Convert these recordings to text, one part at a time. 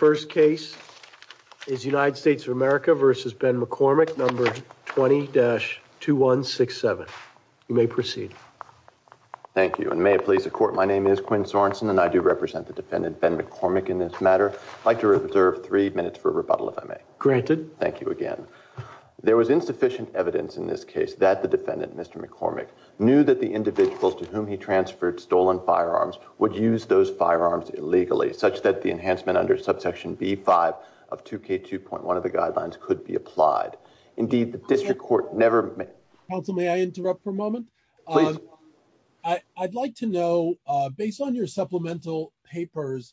The first case is United States of America v. Ben McCormack, No. 20-2167. You may proceed. Thank you, and may it please the Court, my name is Quinn Sorensen and I do represent the defendant Ben McCormack in this matter. I'd like to reserve three minutes for rebuttal if I may. Granted. Thank you again. There was insufficient evidence in this case that the defendant, Mr. McCormack, knew that the individuals to whom he transferred stolen firearms would use those firearms illegally, such that the enhancement under Subsection B-5 of 2K2.1 of the Guidelines could be applied. Indeed, the District Court never may... Counsel, may I interrupt for a moment? Please. I'd like to know, based on your supplemental papers,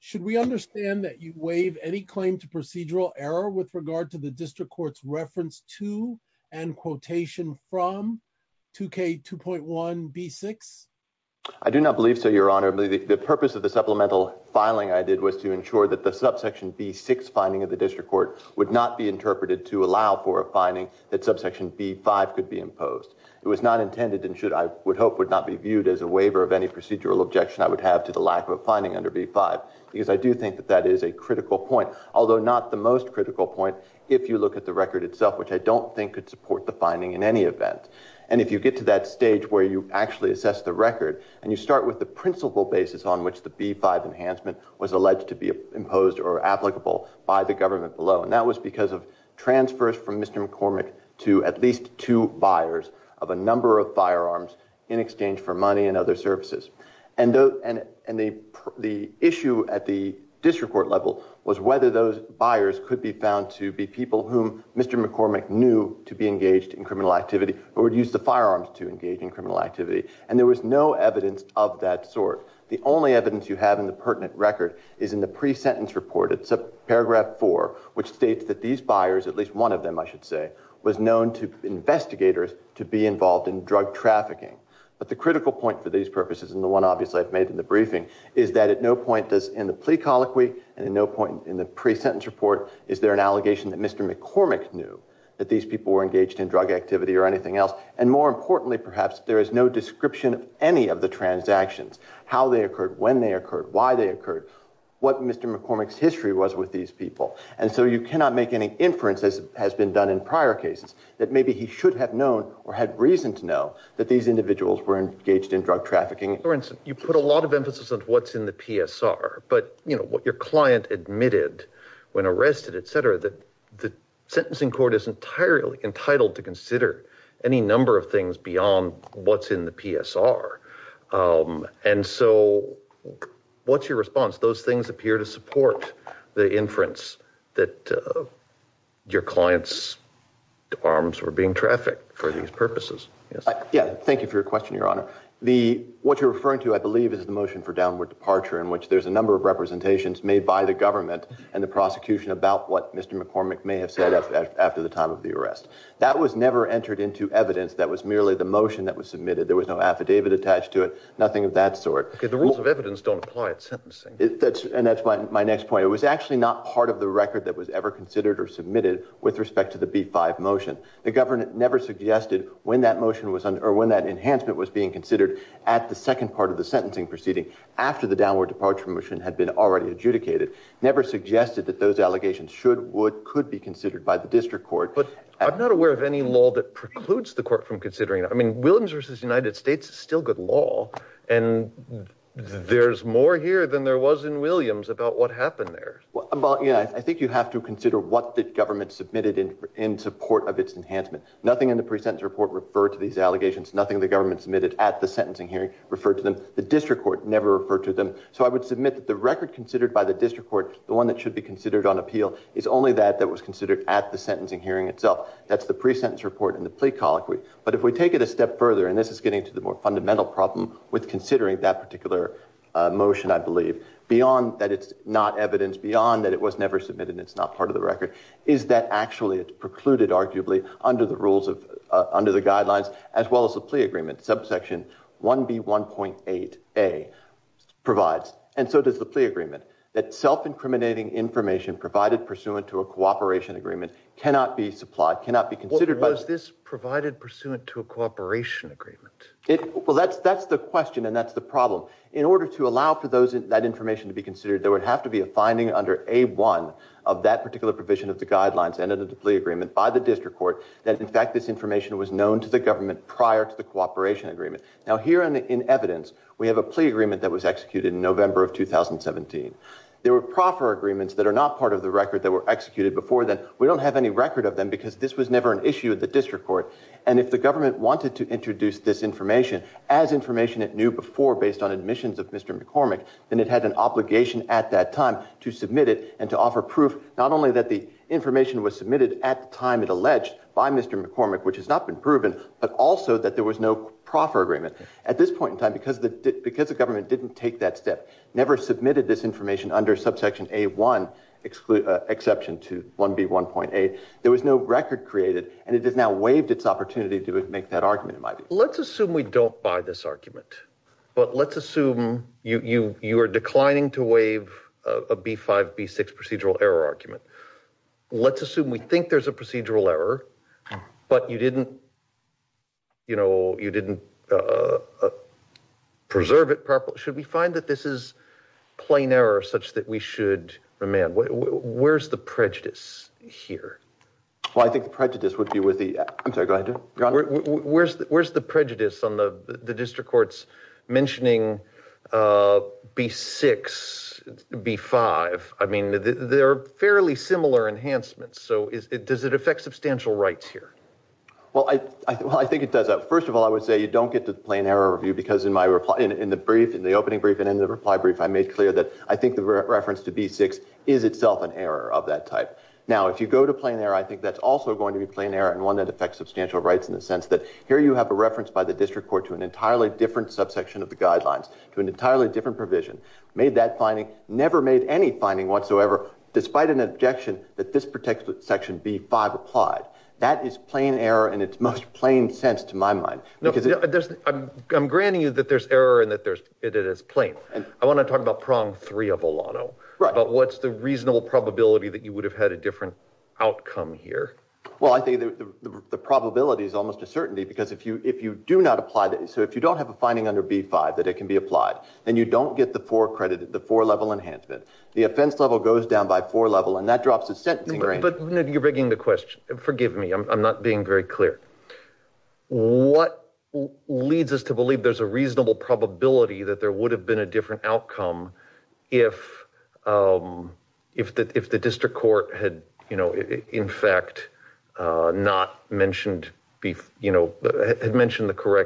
should we understand that you waive any claim to procedural error with regard to the District Court's reference to and quotation from 2K2.1B-6? I do not believe so, Your Honor. The purpose of the supplemental filing I did was to ensure that the Subsection B-6 finding of the District Court would not be interpreted to allow for a finding that Subsection B-5 could be imposed. It was not intended and should, I would hope, would not be viewed as a waiver of any procedural objection I would have to the lack of a finding under B-5, because I do think that that is a critical point, although not the most critical point if you look at the record itself, which I don't think could support the finding in any event. And if you get to that stage where you actually assess the record and you start with the principal basis on which the B-5 enhancement was alleged to be imposed or applicable by the government below, and that was because of transfers from Mr. McCormick to at least two buyers of a number of firearms in exchange for money and other services. And the issue at the District Court level was whether those buyers could be found to be people whom Mr. McCormick would engage in criminal activity or would use the firearms to engage in criminal activity. And there was no evidence of that sort. The only evidence you have in the pertinent record is in the pre-sentence report. It's a paragraph four, which states that these buyers, at least one of them I should say, was known to investigators to be involved in drug trafficking. But the critical point for these purposes, and the one obviously I've made in the briefing, is that at no point does in the plea colloquy and at no point in the pre-sentence report is there an allegation that Mr. McCormick knew that these people were engaged in drug activity or anything else. And more importantly, perhaps, there is no description of any of the transactions, how they occurred, when they occurred, why they occurred, what Mr. McCormick's history was with these people. And so you cannot make any inference, as has been done in prior cases, that maybe he should have known or had reason to know that these individuals were engaged in drug trafficking. For instance, you put a lot of emphasis on what's in the PSR, but what your client admitted when arrested, et cetera, that the sentencing court is entirely entitled to consider any number of things beyond what's in the PSR. And so what's your response? Those things appear to support the inference that your client's arms were being trafficked for these purposes. Yes, thank you for your question, Your Honor. What you're referring to, I believe, is the motion for downward departure in which there's a number of representations made by the government and the prosecution about what Mr. McCormick may have said after the time of the arrest. That was never entered into evidence. That was merely the motion that was submitted. There was no affidavit attached to it, nothing of that sort. Okay, the rules of evidence don't apply at sentencing. And that's my next point. It was actually not part of the record that was ever considered or submitted with respect to the B-5 motion. The government never suggested when that motion was under, or when that enhancement was being considered at the second part of the sentencing proceeding after the downward departure motion had been already adjudicated, never suggested that those allegations should, would, could be considered by the district court. But I'm not aware of any law that precludes the court from considering it. I mean, Williams v. United States is still good law, and there's more here than there was in Williams about what happened there. Well, yeah, I think you have to consider what the government submitted in support of its enhancement. Nothing in the pre-sentence report referred to these allegations. Nothing the district court never referred to them. So I would submit that the record considered by the district court, the one that should be considered on appeal, is only that that was considered at the sentencing hearing itself. That's the pre-sentence report and the plea colloquy. But if we take it a step further, and this is getting to the more fundamental problem with considering that particular motion, I believe, beyond that it's not evidence, beyond that it was never submitted and it's not part of the record, is that actually it's precluded, arguably, under the rules of, under the guidelines, as well as the plea agreement, subsection 1B1.8A provides. And so does the plea agreement. That self-incriminating information provided pursuant to a cooperation agreement cannot be supplied, cannot be considered by Was this provided pursuant to a cooperation agreement? Well, that's the question, and that's the problem. In order to allow for that information to be considered, there would have to be a finding under A1 of that particular provision of the guidelines and of the plea agreement by the district court that, in fact, this was a cooperation agreement. Now, here in evidence, we have a plea agreement that was executed in November of 2017. There were proffer agreements that are not part of the record that were executed before then. We don't have any record of them because this was never an issue of the district court. And if the government wanted to introduce this information as information it knew before based on admissions of Mr. McCormick, then it had an obligation at that time to submit it and to offer proof not only that the information was submitted at the time it alleged by Mr. McCormick, which has not been proven, but also that there was no proffer agreement. At this point in time, because the government didn't take that step, never submitted this information under subsection A1 exception to 1B1.8, there was no record created, and it has now waived its opportunity to make that argument, it might be. Let's assume we don't buy this argument, but let's assume you are declining to waive a B5, B6 procedural error argument. Let's assume we think there's a procedural error, but you didn't, you know, you didn't preserve it properly. Should we find that this is plain error such that we should remand? Where's the prejudice here? Well, I think the prejudice would be with the, I'm sorry, go ahead, John. Where's the prejudice on the district courts mentioning B6, B5? I mean, they're fairly similar enhancements, so does it affect substantial rights here? Well, I think it does. First of all, I would say you don't get the plain error review because in my reply, in the brief, in the opening brief and in the reply brief, I made clear that I think the reference to B6 is itself an error of that type. Now, if you go to plain error, I think that's also going to be plain error and one that affects substantial rights in the sense that here you have a reference by the district court to an entirely different subsection of the guidelines, to an entirely different provision, made that finding, never made any finding whatsoever, despite an objection that this particular section, B5, applied. That is plain error in its most plain sense, to my mind. No, I'm granting you that there's error and that it is plain. I want to talk about prong three of Olano. What's the reasonable probability that you would have had a different outcome here? Well, I think the probability is almost a certainty because if you do not apply that, so if you don't have a finding under B5 that it can be applied, then you don't get the four level enhancement. The offense level goes down by four level and that drops the sentencing range. But you're breaking the question. Forgive me. I'm not being very clear. What leads us to believe there's a reasonable probability that there would have been a different outcome if the district court had, you know, in fact, not mentioned, you know, had mentioned the four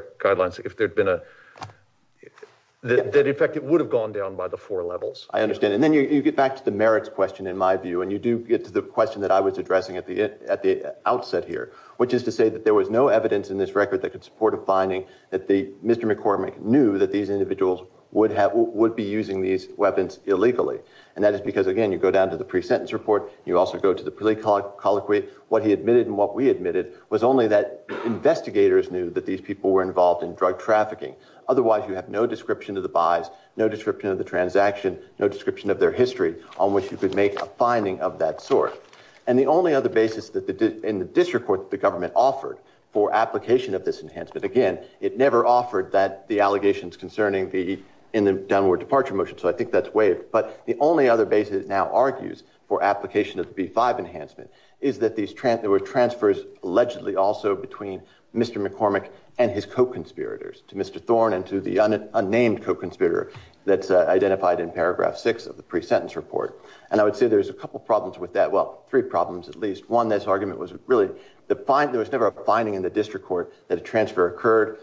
levels. I understand. And then you get back to the merits question, in my view, and you do get to the question that I was addressing at the outset here, which is to say that there was no evidence in this record that could support a finding that Mr. McCormick knew that these individuals would be using these weapons illegally. And that is because, again, you go down to the pre-sentence report. You also go to the plea colloquy. What he admitted and what we admitted was only that investigators knew that these people were involved in drug trafficking. Otherwise, you have no description of the buys, no description of the transaction, no description of their history on which you could make a finding of that sort. And the only other basis that the district court, the government offered for application of this enhancement, again, it never offered that the allegations concerning the in the downward departure motion. So I think that's waived. But the only other basis now argues for application of the B-5 enhancement is that there were transfers allegedly also between Mr. McCormick and his co-conspirators, to Mr. Thorne and to the unnamed co-conspirator that's identified in paragraph six of the pre-sentence report. And I would say there's a couple of problems with that. Well, three problems at least. One, this argument was really there was never a finding in the district court that a transfer occurred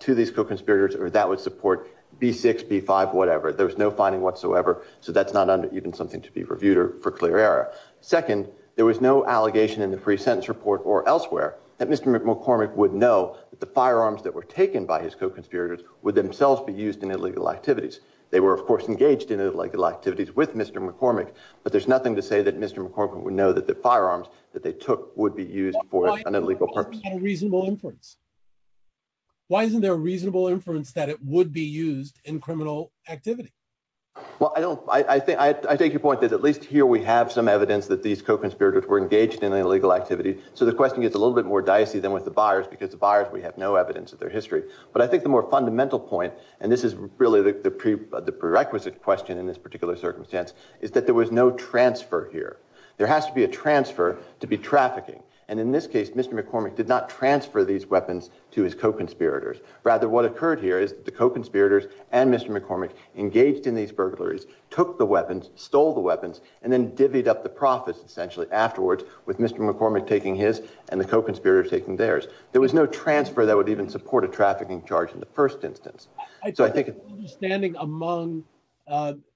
to these co-conspirators or that would support B-6, B-5, whatever. There was no finding whatsoever. So that's not even something to be reviewed for clear error. Second, there was no allegation in the pre-sentence report or elsewhere that Mr. McCormick would know that the firearms that were taken by his co-conspirators would themselves be used in illegal activities. They were of course engaged in illegal activities with Mr. McCormick, but there's nothing to say that Mr. McCormick would know that the firearms that they took would be used for an illegal purpose. Why isn't there a reasonable inference? Why isn't there a reasonable inference that it would be used in criminal activity? Well, I don't, I think, I take your point that at least here we have some evidence that these co-conspirators were engaged in an illegal activity. So the question gets a little bit more dicey than with the buyers because the buyers, we have no evidence of their history. But I think the more fundamental point, and this is really the prerequisite question in this particular circumstance, is that there was no transfer here. There has to be a transfer to be trafficking. And in this case, Mr. McCormick did not transfer these weapons to his co-conspirators. Rather, what occurred here is the co-conspirators and Mr. McCormick engaged in these burglaries, took the weapons, stole the weapons, and then divvied up the profits essentially afterwards with Mr. McCormick taking his and the co-conspirators taking theirs. There was no transfer that would even support a trafficking charge in the first instance. I took an understanding among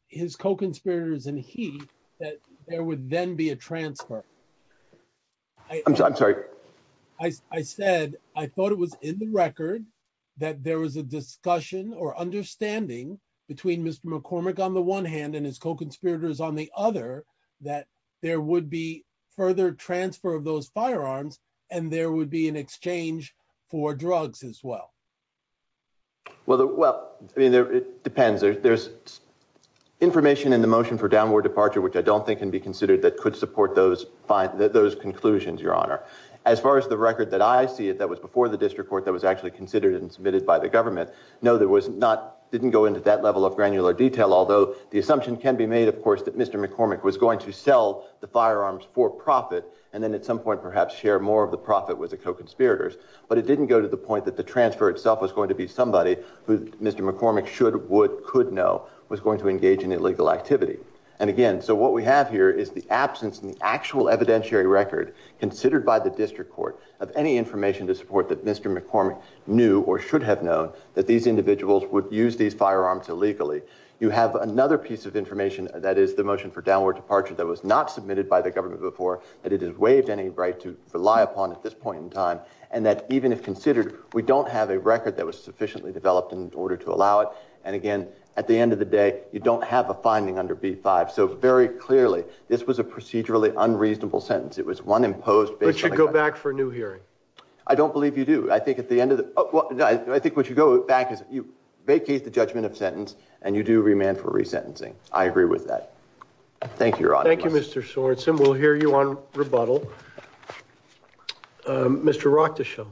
his co-conspirators and he that there would then be a transfer. I'm sorry. I said, I thought it was in the record that there was a discussion or understanding between Mr. McCormick on the one hand and his co-conspirators on the other that there would be further transfer of those firearms and there would be an exchange for drugs as well. Well, I mean, it depends. There's information in the motion for downward departure, which I don't think can be considered that could support those conclusions, Your Honor. As far as the record that I see that was before the district court that was actually considered and submitted by the government, no, there was not, didn't go into that level of granular detail, although the assumption can be made, of course, that Mr. McCormick was going to sell the firearms for profit and then at some point perhaps share more of the profit with the co-conspirators, but it didn't go to the point that the transfer itself was going to be somebody who Mr. McCormick should, would, could know was going to engage in illegal activity. And again, so what we have here is the absence in the actual evidentiary record considered by the district court of any information to support that Mr. McCormick knew or should have known that these individuals would use these firearms illegally. You have another piece of information that is the motion for downward departure that was not submitted by the government before, that it has waived any right to rely upon at this point in time, and that even if considered, we don't have a record that was sufficiently developed in order to allow it. And again, at the end of the day, you don't have a finding under B-5. So very clearly, this was a procedurally unreasonable sentence. It was one imposed. But you should go back for a new hearing. I don't believe you do. I think at the end of the, oh, well, no, I think what you go back is you vacate the judgment of sentence, and you do remand for resentencing. I agree with that. Thank you, Your Honor. Thank you, Mr. Sorensen. We'll hear you on rebuttal. Mr. Rochtaschel.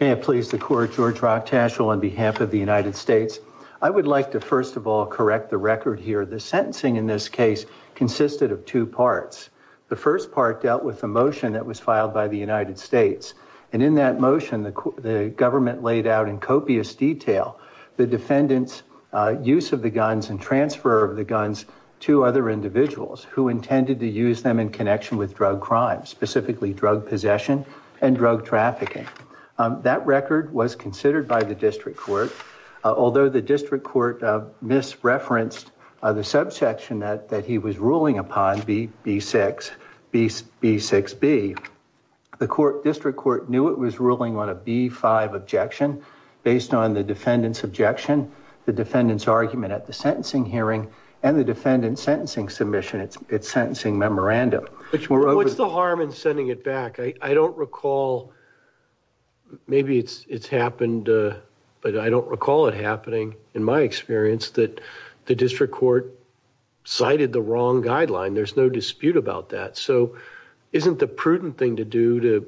May it please the court, George Rochtaschel, on behalf of the United States. I would like to, first of all, correct the record here. The sentencing in this case consisted of two parts. The first part dealt with a motion that was filed by the United States. And in that motion, the government laid out in copious detail the defendant's use of the guns and transfer of the guns to other individuals who intended to use them in connection with drug crimes, specifically drug possession and drug trafficking. That record was considered by the district court. Although the district court misreferenced the subsection that he was ruling upon, B6B, the district court knew it was ruling on a B5 objection based on the defendant's objection, the defendant's argument at the sentencing hearing, and the defendant's sentencing submission, its sentencing memorandum. What's the harm in sending it back? I don't recall, maybe it's happened, but I don't recall it happening in my experience that the district court cited the wrong guideline. There's no dispute about that. So isn't the prudent thing to do to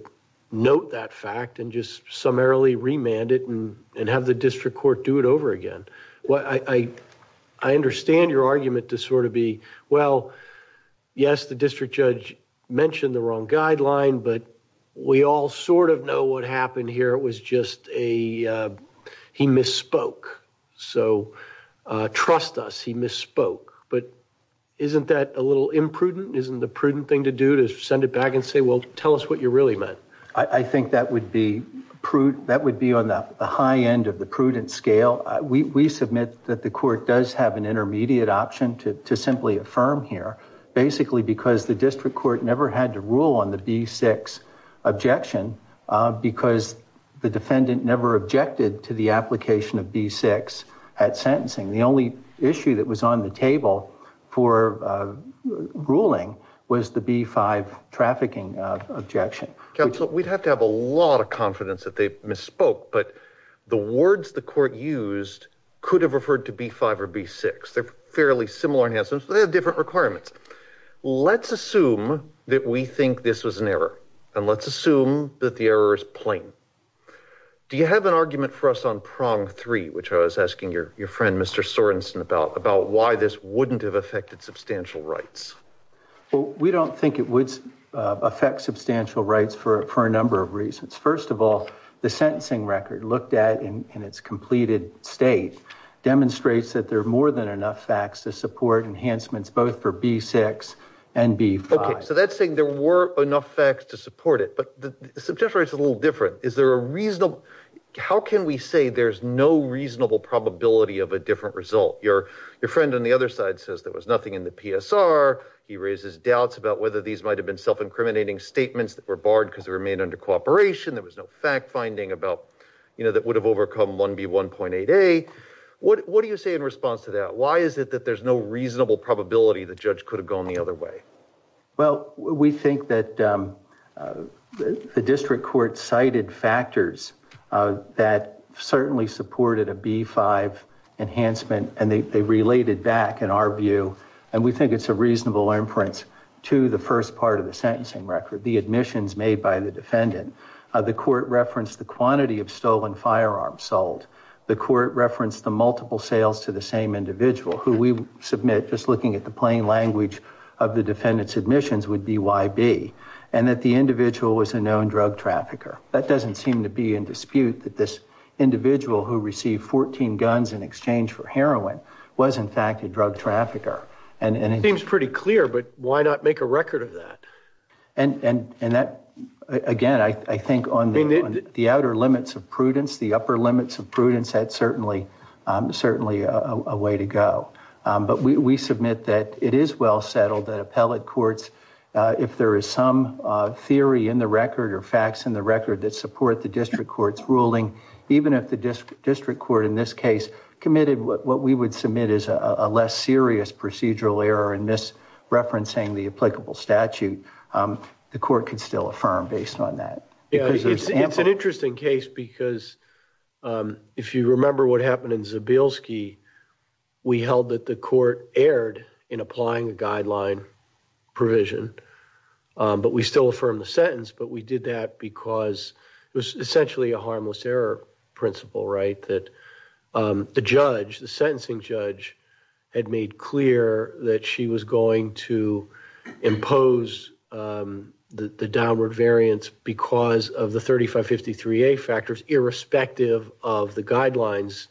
note that fact and just summarily remand it and have the district court do it over again? I understand your argument to sort of be, well, yes, the district judge mentioned the wrong guideline, but we all sort of know what happened here. It was just a, he misspoke. So trust us, he misspoke. But isn't that a little imprudent? Isn't the prudent thing to do to send it back and say, well, tell us what you really meant? I think that would be prudent. That would be on the high end of the prudent scale. We submit that the court does have an intermediate option to simply affirm here, basically because the district court never had to rule on the B-6 objection because the defendant never objected to the application of B-6 at sentencing. The only issue that was on the table for ruling was the B-5 trafficking objection. Counsel, we'd have to have a lot of confidence that they misspoke, but the words the court used could have referred to B-5 or B-6. They're fairly similar in essence, but they have different requirements. Let's assume that we think this was an error, and let's assume that the error is plain. Do you have an argument for us on prong three, which I was asking your friend, Mr. Sorenson, about why this wouldn't have affected substantial rights? Well, we don't think it would affect substantial rights for a number of reasons. First of all, the sentencing record looked at in its completed state demonstrates that there are more than enough facts to support enhancements both for B-6 and B-5. Okay. So that's saying there were enough facts to support it, but the substantial rights is a little different. Is there a reasonable... How can we say there's no reasonable probability of a different result? Your friend on the other side says there was nothing in the PSR. He raises doubts about whether these might have been self-incriminating statements that were barred because they were made under cooperation. There was no fact-finding about, you know, that would have overcome 1B1.8a. What do you say in response to that? Why is it that there's no reasonable probability the judge could have gone the other way? Well, we think that the district court cited factors that certainly supported a B-5 enhancement and they related back, in our view, and we think it's a reasonable inference to the first part of the sentencing record, the admissions made by the defendant. The court referenced the quantity of stolen firearms sold. The court referenced the multiple sales to the same individual who we submit, just looking at the plain language of the defendant's admissions, would be YB, and that the individual was a known drug trafficker. That doesn't seem to be in dispute that this individual who received 14 guns in exchange for heroin was, in fact, a drug trafficker. And it seems pretty clear, but why not make a record of that? And that, again, I think on the outer limits of prudence, the upper limits of prudence, that's certainly a way to go. But we submit that it is well settled that appellate courts, if there is some theory in the record or facts in the record that support the district court's ruling, even if the district court in this case committed what we would submit as a less serious procedural error in misreferencing the applicable statute, the court could still affirm based on that. Yeah, it's an interesting case because if you remember what happened in Zabilski, we held that the court erred in applying the guideline provision, but we still affirmed the sentence. But we did that because it was essentially a harmless error principle, right, that the sentencing judge had made clear that she was going to impose the downward variance because of the 3553A factors irrespective of the guidelines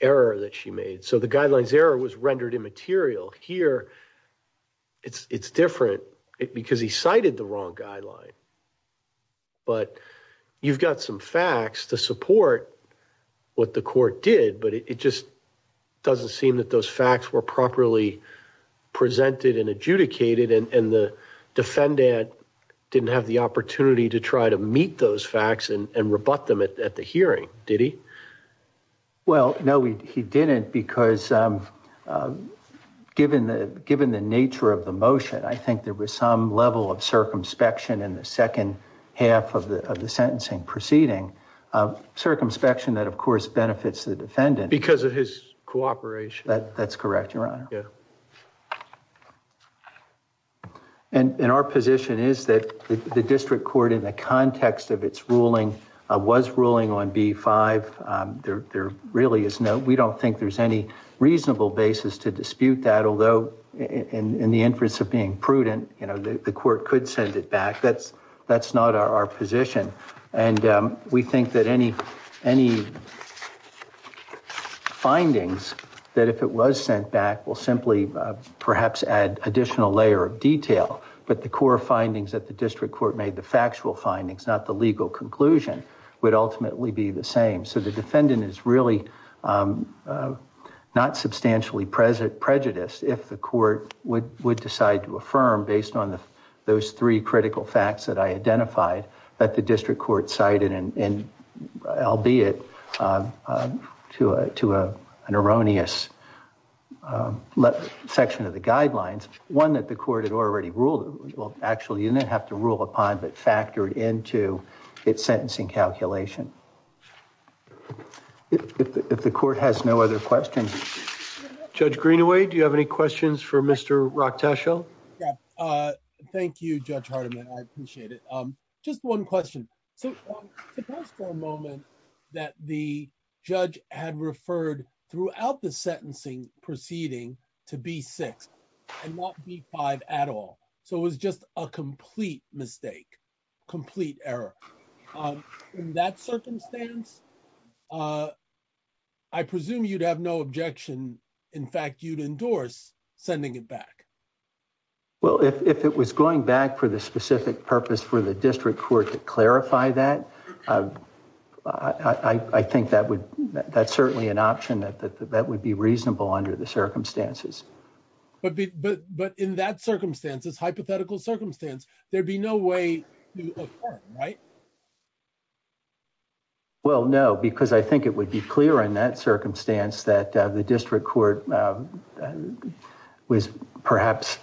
error that she made. So the guidelines error was rendered immaterial. Here, it's different because he cited the wrong guideline, but you've got some facts to support what the court did, but it just doesn't seem that those facts were properly presented and adjudicated and the defendant didn't have the opportunity to try to meet those facts and rebut them at the hearing, did he? Well, no, he didn't because given the nature of the motion, I think there was some level of circumspection in the second half of the sentencing proceeding. Circumspection that, of course, benefits the defendant. Because of his cooperation. That's correct, Your Honor. Yeah. And our position is that the district court in the context of its ruling was ruling on B-5. There really is no, we don't think there's any reasonable basis to dispute that, although in the interest of being prudent, the court could send it back. That's not our position. And we think that any findings that if it was sent back will simply perhaps add additional layer of detail. But the core findings that the district court made, the factual findings, not the legal conclusion, would ultimately be the same. So the defendant is really not substantially prejudiced if the court would decide to affirm based on those three critical facts that I identified that the district court cited, and albeit to an erroneous section of the guidelines. One that the court had already ruled, well, actually you didn't have to rule upon, but factored into its sentencing calculation. If the court has no other questions. Judge Greenaway, do you have any questions for Mr. Rock Tashel? Thank you, Judge Hardiman. I appreciate it. Just one question. So suppose for a moment that the judge had referred throughout the sentencing proceeding to B-6 and not B-5 at all. So it was just a complete mistake, complete error. In that circumstance, I presume you'd have no objection. In fact, you'd endorse sending it back. Well, if it was going back for the specific purpose for the district court to clarify that, I think that's certainly an option that would be reasonable under the circumstances. But in that circumstances, hypothetical circumstance, there'd be no way to affirm, right? Well, no, because I think it would be clear in that circumstance that the district court was perhaps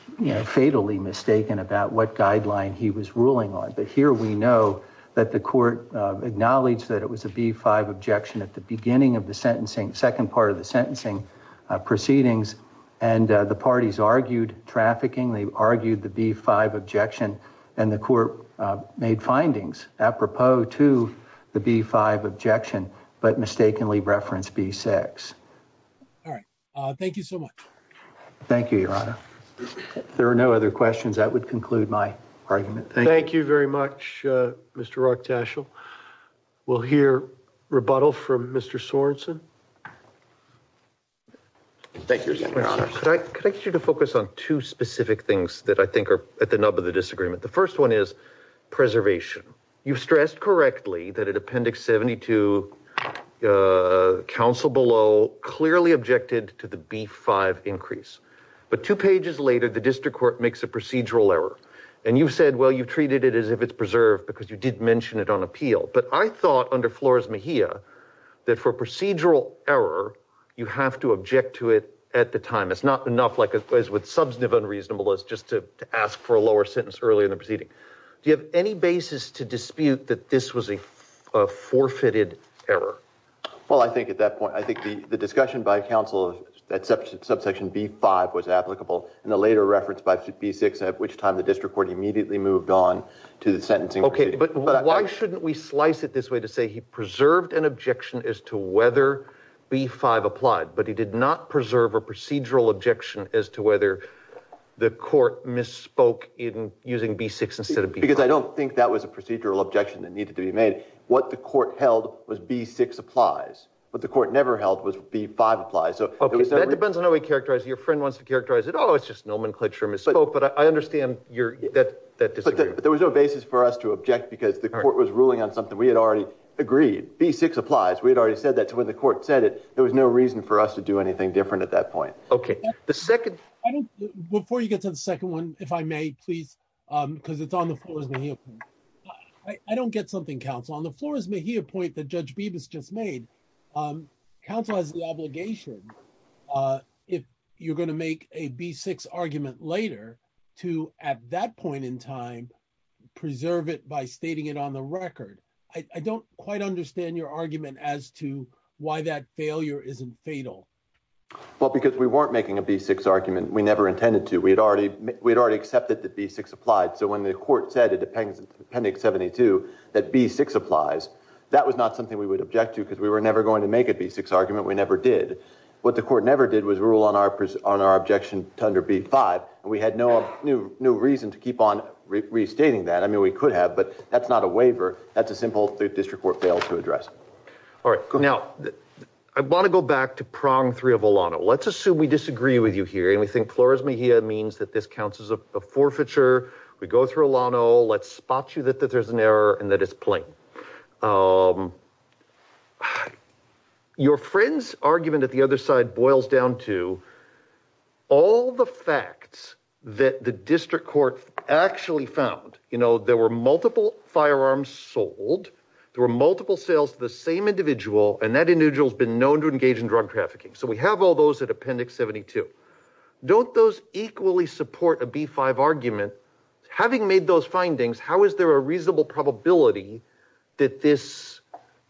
fatally mistaken about what guideline he was ruling on. But here we know that the court acknowledged that it was a B-5 objection at the beginning of the second part of the sentencing proceedings, and the parties argued trafficking. They argued the B-5 objection, and the court made findings apropos to the B-5 objection, but mistakenly referenced B-6. All right. Thank you so much. Thank you, Your Honor. There are no other questions. That would conclude my argument. Thank you very much, Mr. Rock Tashel. We'll hear rebuttal from Mr. Sorenson. Thank you, Your Honor. Could I get you to focus on two specific things that I think are at the nub of the disagreement? The first one is preservation. You've stressed correctly that in Appendix 72, counsel below clearly objected to the B-5 increase. But two pages later, the district court makes a procedural error. And you've said, well, you've treated it as if it's preserved because you did mention it on appeal. But I thought under Flores Mejia that for procedural error, you have to object to it at the time. It's not enough as with substantive unreasonable as just to ask for a lower sentence early in the proceeding. Do you have any basis to dispute that this was a forfeited error? Well, I think at that point, I think the discussion by counsel that subsection B-5 was applicable in the later reference by B-6, at which time the district court immediately moved on to the sentencing. OK. But why shouldn't we slice it this way to say he preserved an objection as to whether B-5 applied? But he did not preserve a procedural objection as to whether the court misspoke in using B-6 instead of B-5. Because I don't think that was a procedural objection that needed to be made. What the court held was B-6 applies. What the court never held was B-5 applies. OK. That depends on how we characterize it. Your friend wants to characterize it. Oh, it's just nomenclature misspoke. But I understand that that disagreed. But there was no basis for us to object because the court was ruling on something we had already agreed. B-6 applies. We had already said that. When the court said it, there was no reason for us to do anything different at that point. OK. Before you get to the second one, if I may, please, because it's on the floor. I don't get something, counsel. On the floor is a point that Judge Bibas just made. Counsel has the obligation, if you're going to make a B-6 argument later, to, at that point in time, preserve it by stating it on the record. I don't quite understand your argument as to why that failure isn't fatal. Well, because we weren't making a B-6 argument. We never intended to. We had already accepted that B-6 applied. So when the court said, in appendix 72, that B-6 applies, that was not something we would object to because we were never going to make a B-6 argument. We never did. What the court never did was rule on our objection to under B-5. And we had no reason to keep on restating that. I mean, we could have. But that's not a waiver. That's a simple district court fail to address. All right. Now, I want to go back to prong three of Olano. Let's assume we disagree with you here and we think Flores Mejia means that this counts as a forfeiture. We go through Olano. Let's spot you that there's an error and that it's plain. Your friend's argument at the other side boils down to all the facts that the district court actually found. There were multiple firearms sold. There were multiple sales to the same individual. And that individual has been known to engage in drug trafficking. So we have all those at appendix 72. Don't those equally support a B-5 argument? Having made those findings, how is there a reasonable probability that this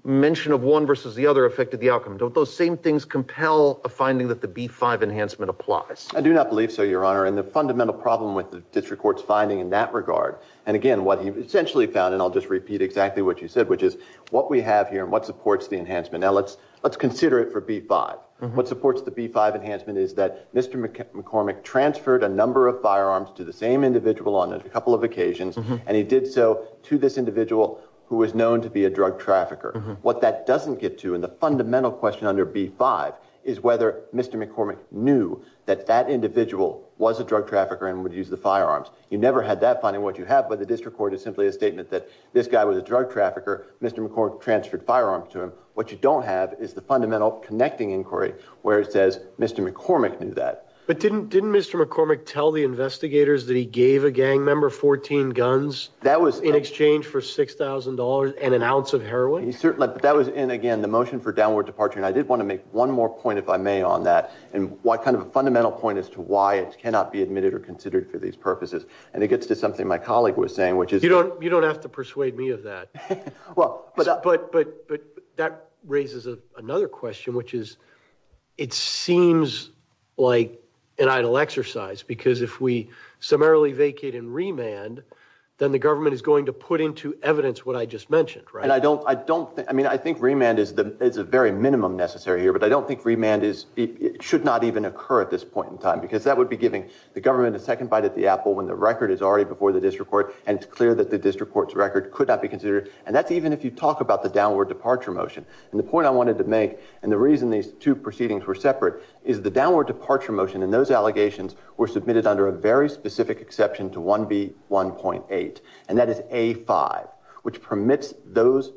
mention of one versus the other affected the outcome? Don't those same things compel a finding that the B-5 enhancement applies? I do not believe so, Your Honor. And the fundamental problem with the district court's finding in that regard, and again, what he essentially found, and I'll just repeat exactly what you said, which is what we have here and what supports the enhancement. Now, let's consider it for B-5. What supports the B-5 enhancement is that Mr. McCormick transferred a number of firearms to the same individual on a couple of occasions, and he did so to this individual who was known to be a drug trafficker. What that doesn't get to in the fundamental question under B-5 is whether Mr. McCormick knew that that individual was a drug trafficker and would use the firearms. You never had that finding, what you have, but the district court is simply a statement that this guy was a drug trafficker. Mr. McCormick transferred firearms to him. What you don't have is the fundamental connecting inquiry, where it says Mr. McCormick knew that. But didn't Mr. McCormick tell the investigators that he gave a gang member 14 guns in exchange for $6,000 and an ounce of heroin? That was in, again, the motion for downward departure, and I did want to make one more point, if I may, on that, and what kind of a fundamental point as to why it cannot be admitted or considered for these purposes, and it gets to something my colleague was saying, which is- You don't have to persuade me of that. But that raises another question, which is, it seems like an idle exercise, because if we summarily vacate and remand, then the government is going to put into evidence what I just mentioned, right? I mean, I think remand is a very minimum necessary here, but I don't think remand should not even occur at this point in time, because that would be giving the government a second bite at the apple when the record is already before the district court, and it's clear that the district court's record could not be considered. And that's even if you talk about the downward departure motion. And the point I wanted to make, and the reason these two proceedings were separate, is the downward departure motion and those allegations were submitted under a very specific exception to 1B1.8, and that is A5, which permits those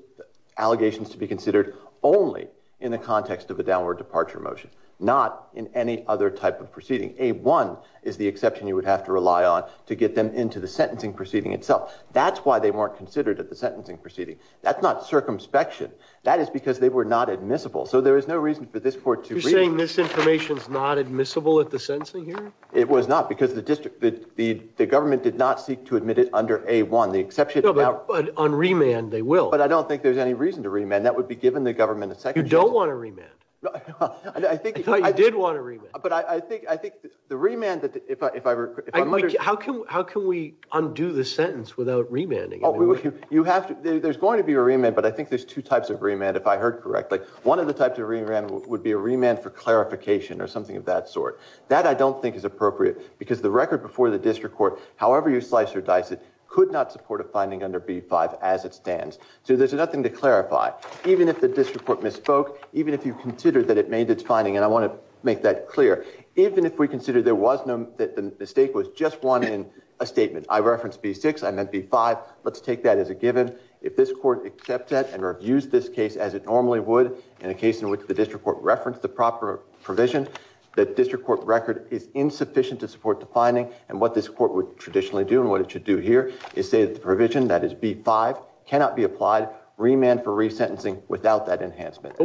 allegations to be considered only in the context of a downward departure motion, not in any other type of proceeding. A1 is the exception you would have to rely on to get them into the sentencing proceeding itself. That's why they weren't considered at the sentencing proceeding. That's not circumspection. That is because they were not admissible. So there is no reason for this court to- You're saying misinformation is not admissible at the sentencing here? It was not, because the government did not seek to admit it under A1. The exception- No, but on remand, they will. But I don't think there's any reason to remand. That would be giving the government a second chance- You don't want to remand. No, I think- I thought you did want to remand. But I think the remand, if I'm under- How can we undo the sentence without remanding? There's going to be a remand, but I think there's two types of remand, if I heard correctly. One of the types of remand would be a remand for clarification or something of that sort. That I don't think is appropriate, because the record before the district court, however you slice or dice it, could not support a finding under B5 as it stands. So there's nothing to clarify, even if the district court misspoke, even if you considered that it made its finding. And I want to make that clear. Even if we considered there was no- that the mistake was just one in a statement. I referenced B6. I meant B5. Let's take that as a given. If this court accepts that and reviews this case as it normally would, in a case in which the district court referenced the proper provision, that district court record is insufficient to support the finding, and what this court would traditionally do, and what it should do here, is say that the provision, that is B5, cannot be applied. Remand for resentencing without that enhancement.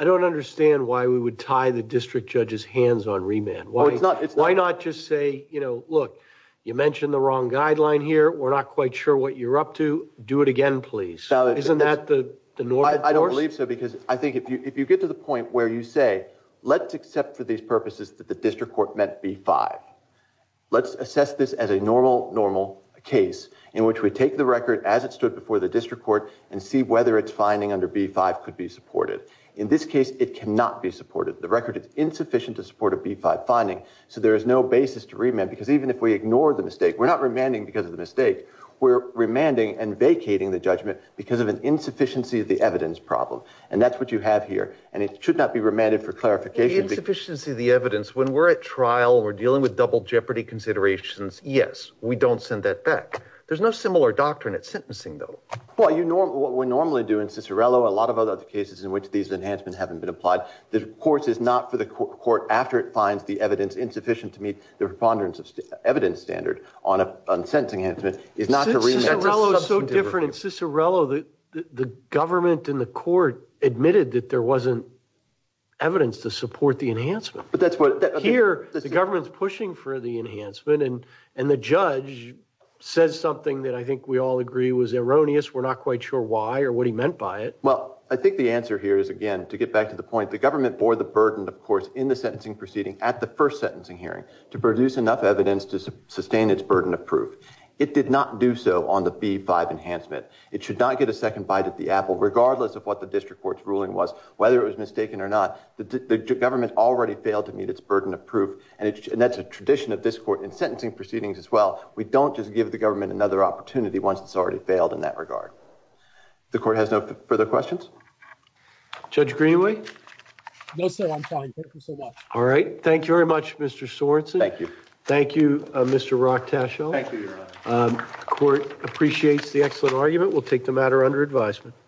I don't understand why we would tie the district judge's hands on remand. Why not just say, you know, look, you mentioned the wrong guideline here. We're not quite sure what you're up to. Do it again, please. Isn't that the normal course? I think if you get to the point where you say, let's accept for these purposes that the district court meant B5. Let's assess this as a normal, normal case, in which we take the record as it stood before the district court and see whether its finding under B5 could be supported. In this case, it cannot be supported. The record is insufficient to support a B5 finding, so there is no basis to remand, because even if we ignore the mistake, We're remanding and vacating the judgment because of an insufficiency of the evidence problem, and that's what you have here, and it should not be remanded for clarification. Insufficiency of the evidence. When we're at trial, we're dealing with double jeopardy considerations. Yes, we don't send that back. There's no similar doctrine at sentencing, though. Well, you know what we normally do in Cicerello, a lot of other cases in which these enhancements haven't been applied. The court is not for the court after it finds the evidence insufficient to meet the preponderance of evidence standard on a sentencing enhancement. Cicerello is so different. In Cicerello, the government and the court admitted that there wasn't evidence to support the enhancement. Here, the government's pushing for the enhancement, and the judge says something that I think we all agree was erroneous. We're not quite sure why or what he meant by it. Well, I think the answer here is, again, to get back to the point, the government bore the burden, of course, in the sentencing proceeding at the first sentencing hearing to produce enough evidence to sustain its burden of proof. It did not do so on the B-5 enhancement. It should not get a second bite at the apple, regardless of what the district court's ruling was, whether it was mistaken or not. The government already failed to meet its burden of proof, and that's a tradition of this court in sentencing proceedings as well. We don't just give the government another opportunity once it's already failed in that regard. The court has no further questions? Judge Greenlee? No, sir. I'm fine. Thank you so much. All right. Thank you very much, Mr. Sorenson. Thank you. Thank you, Mr. Rochtaschel. The court appreciates the excellent argument. We'll take the matter under advisement.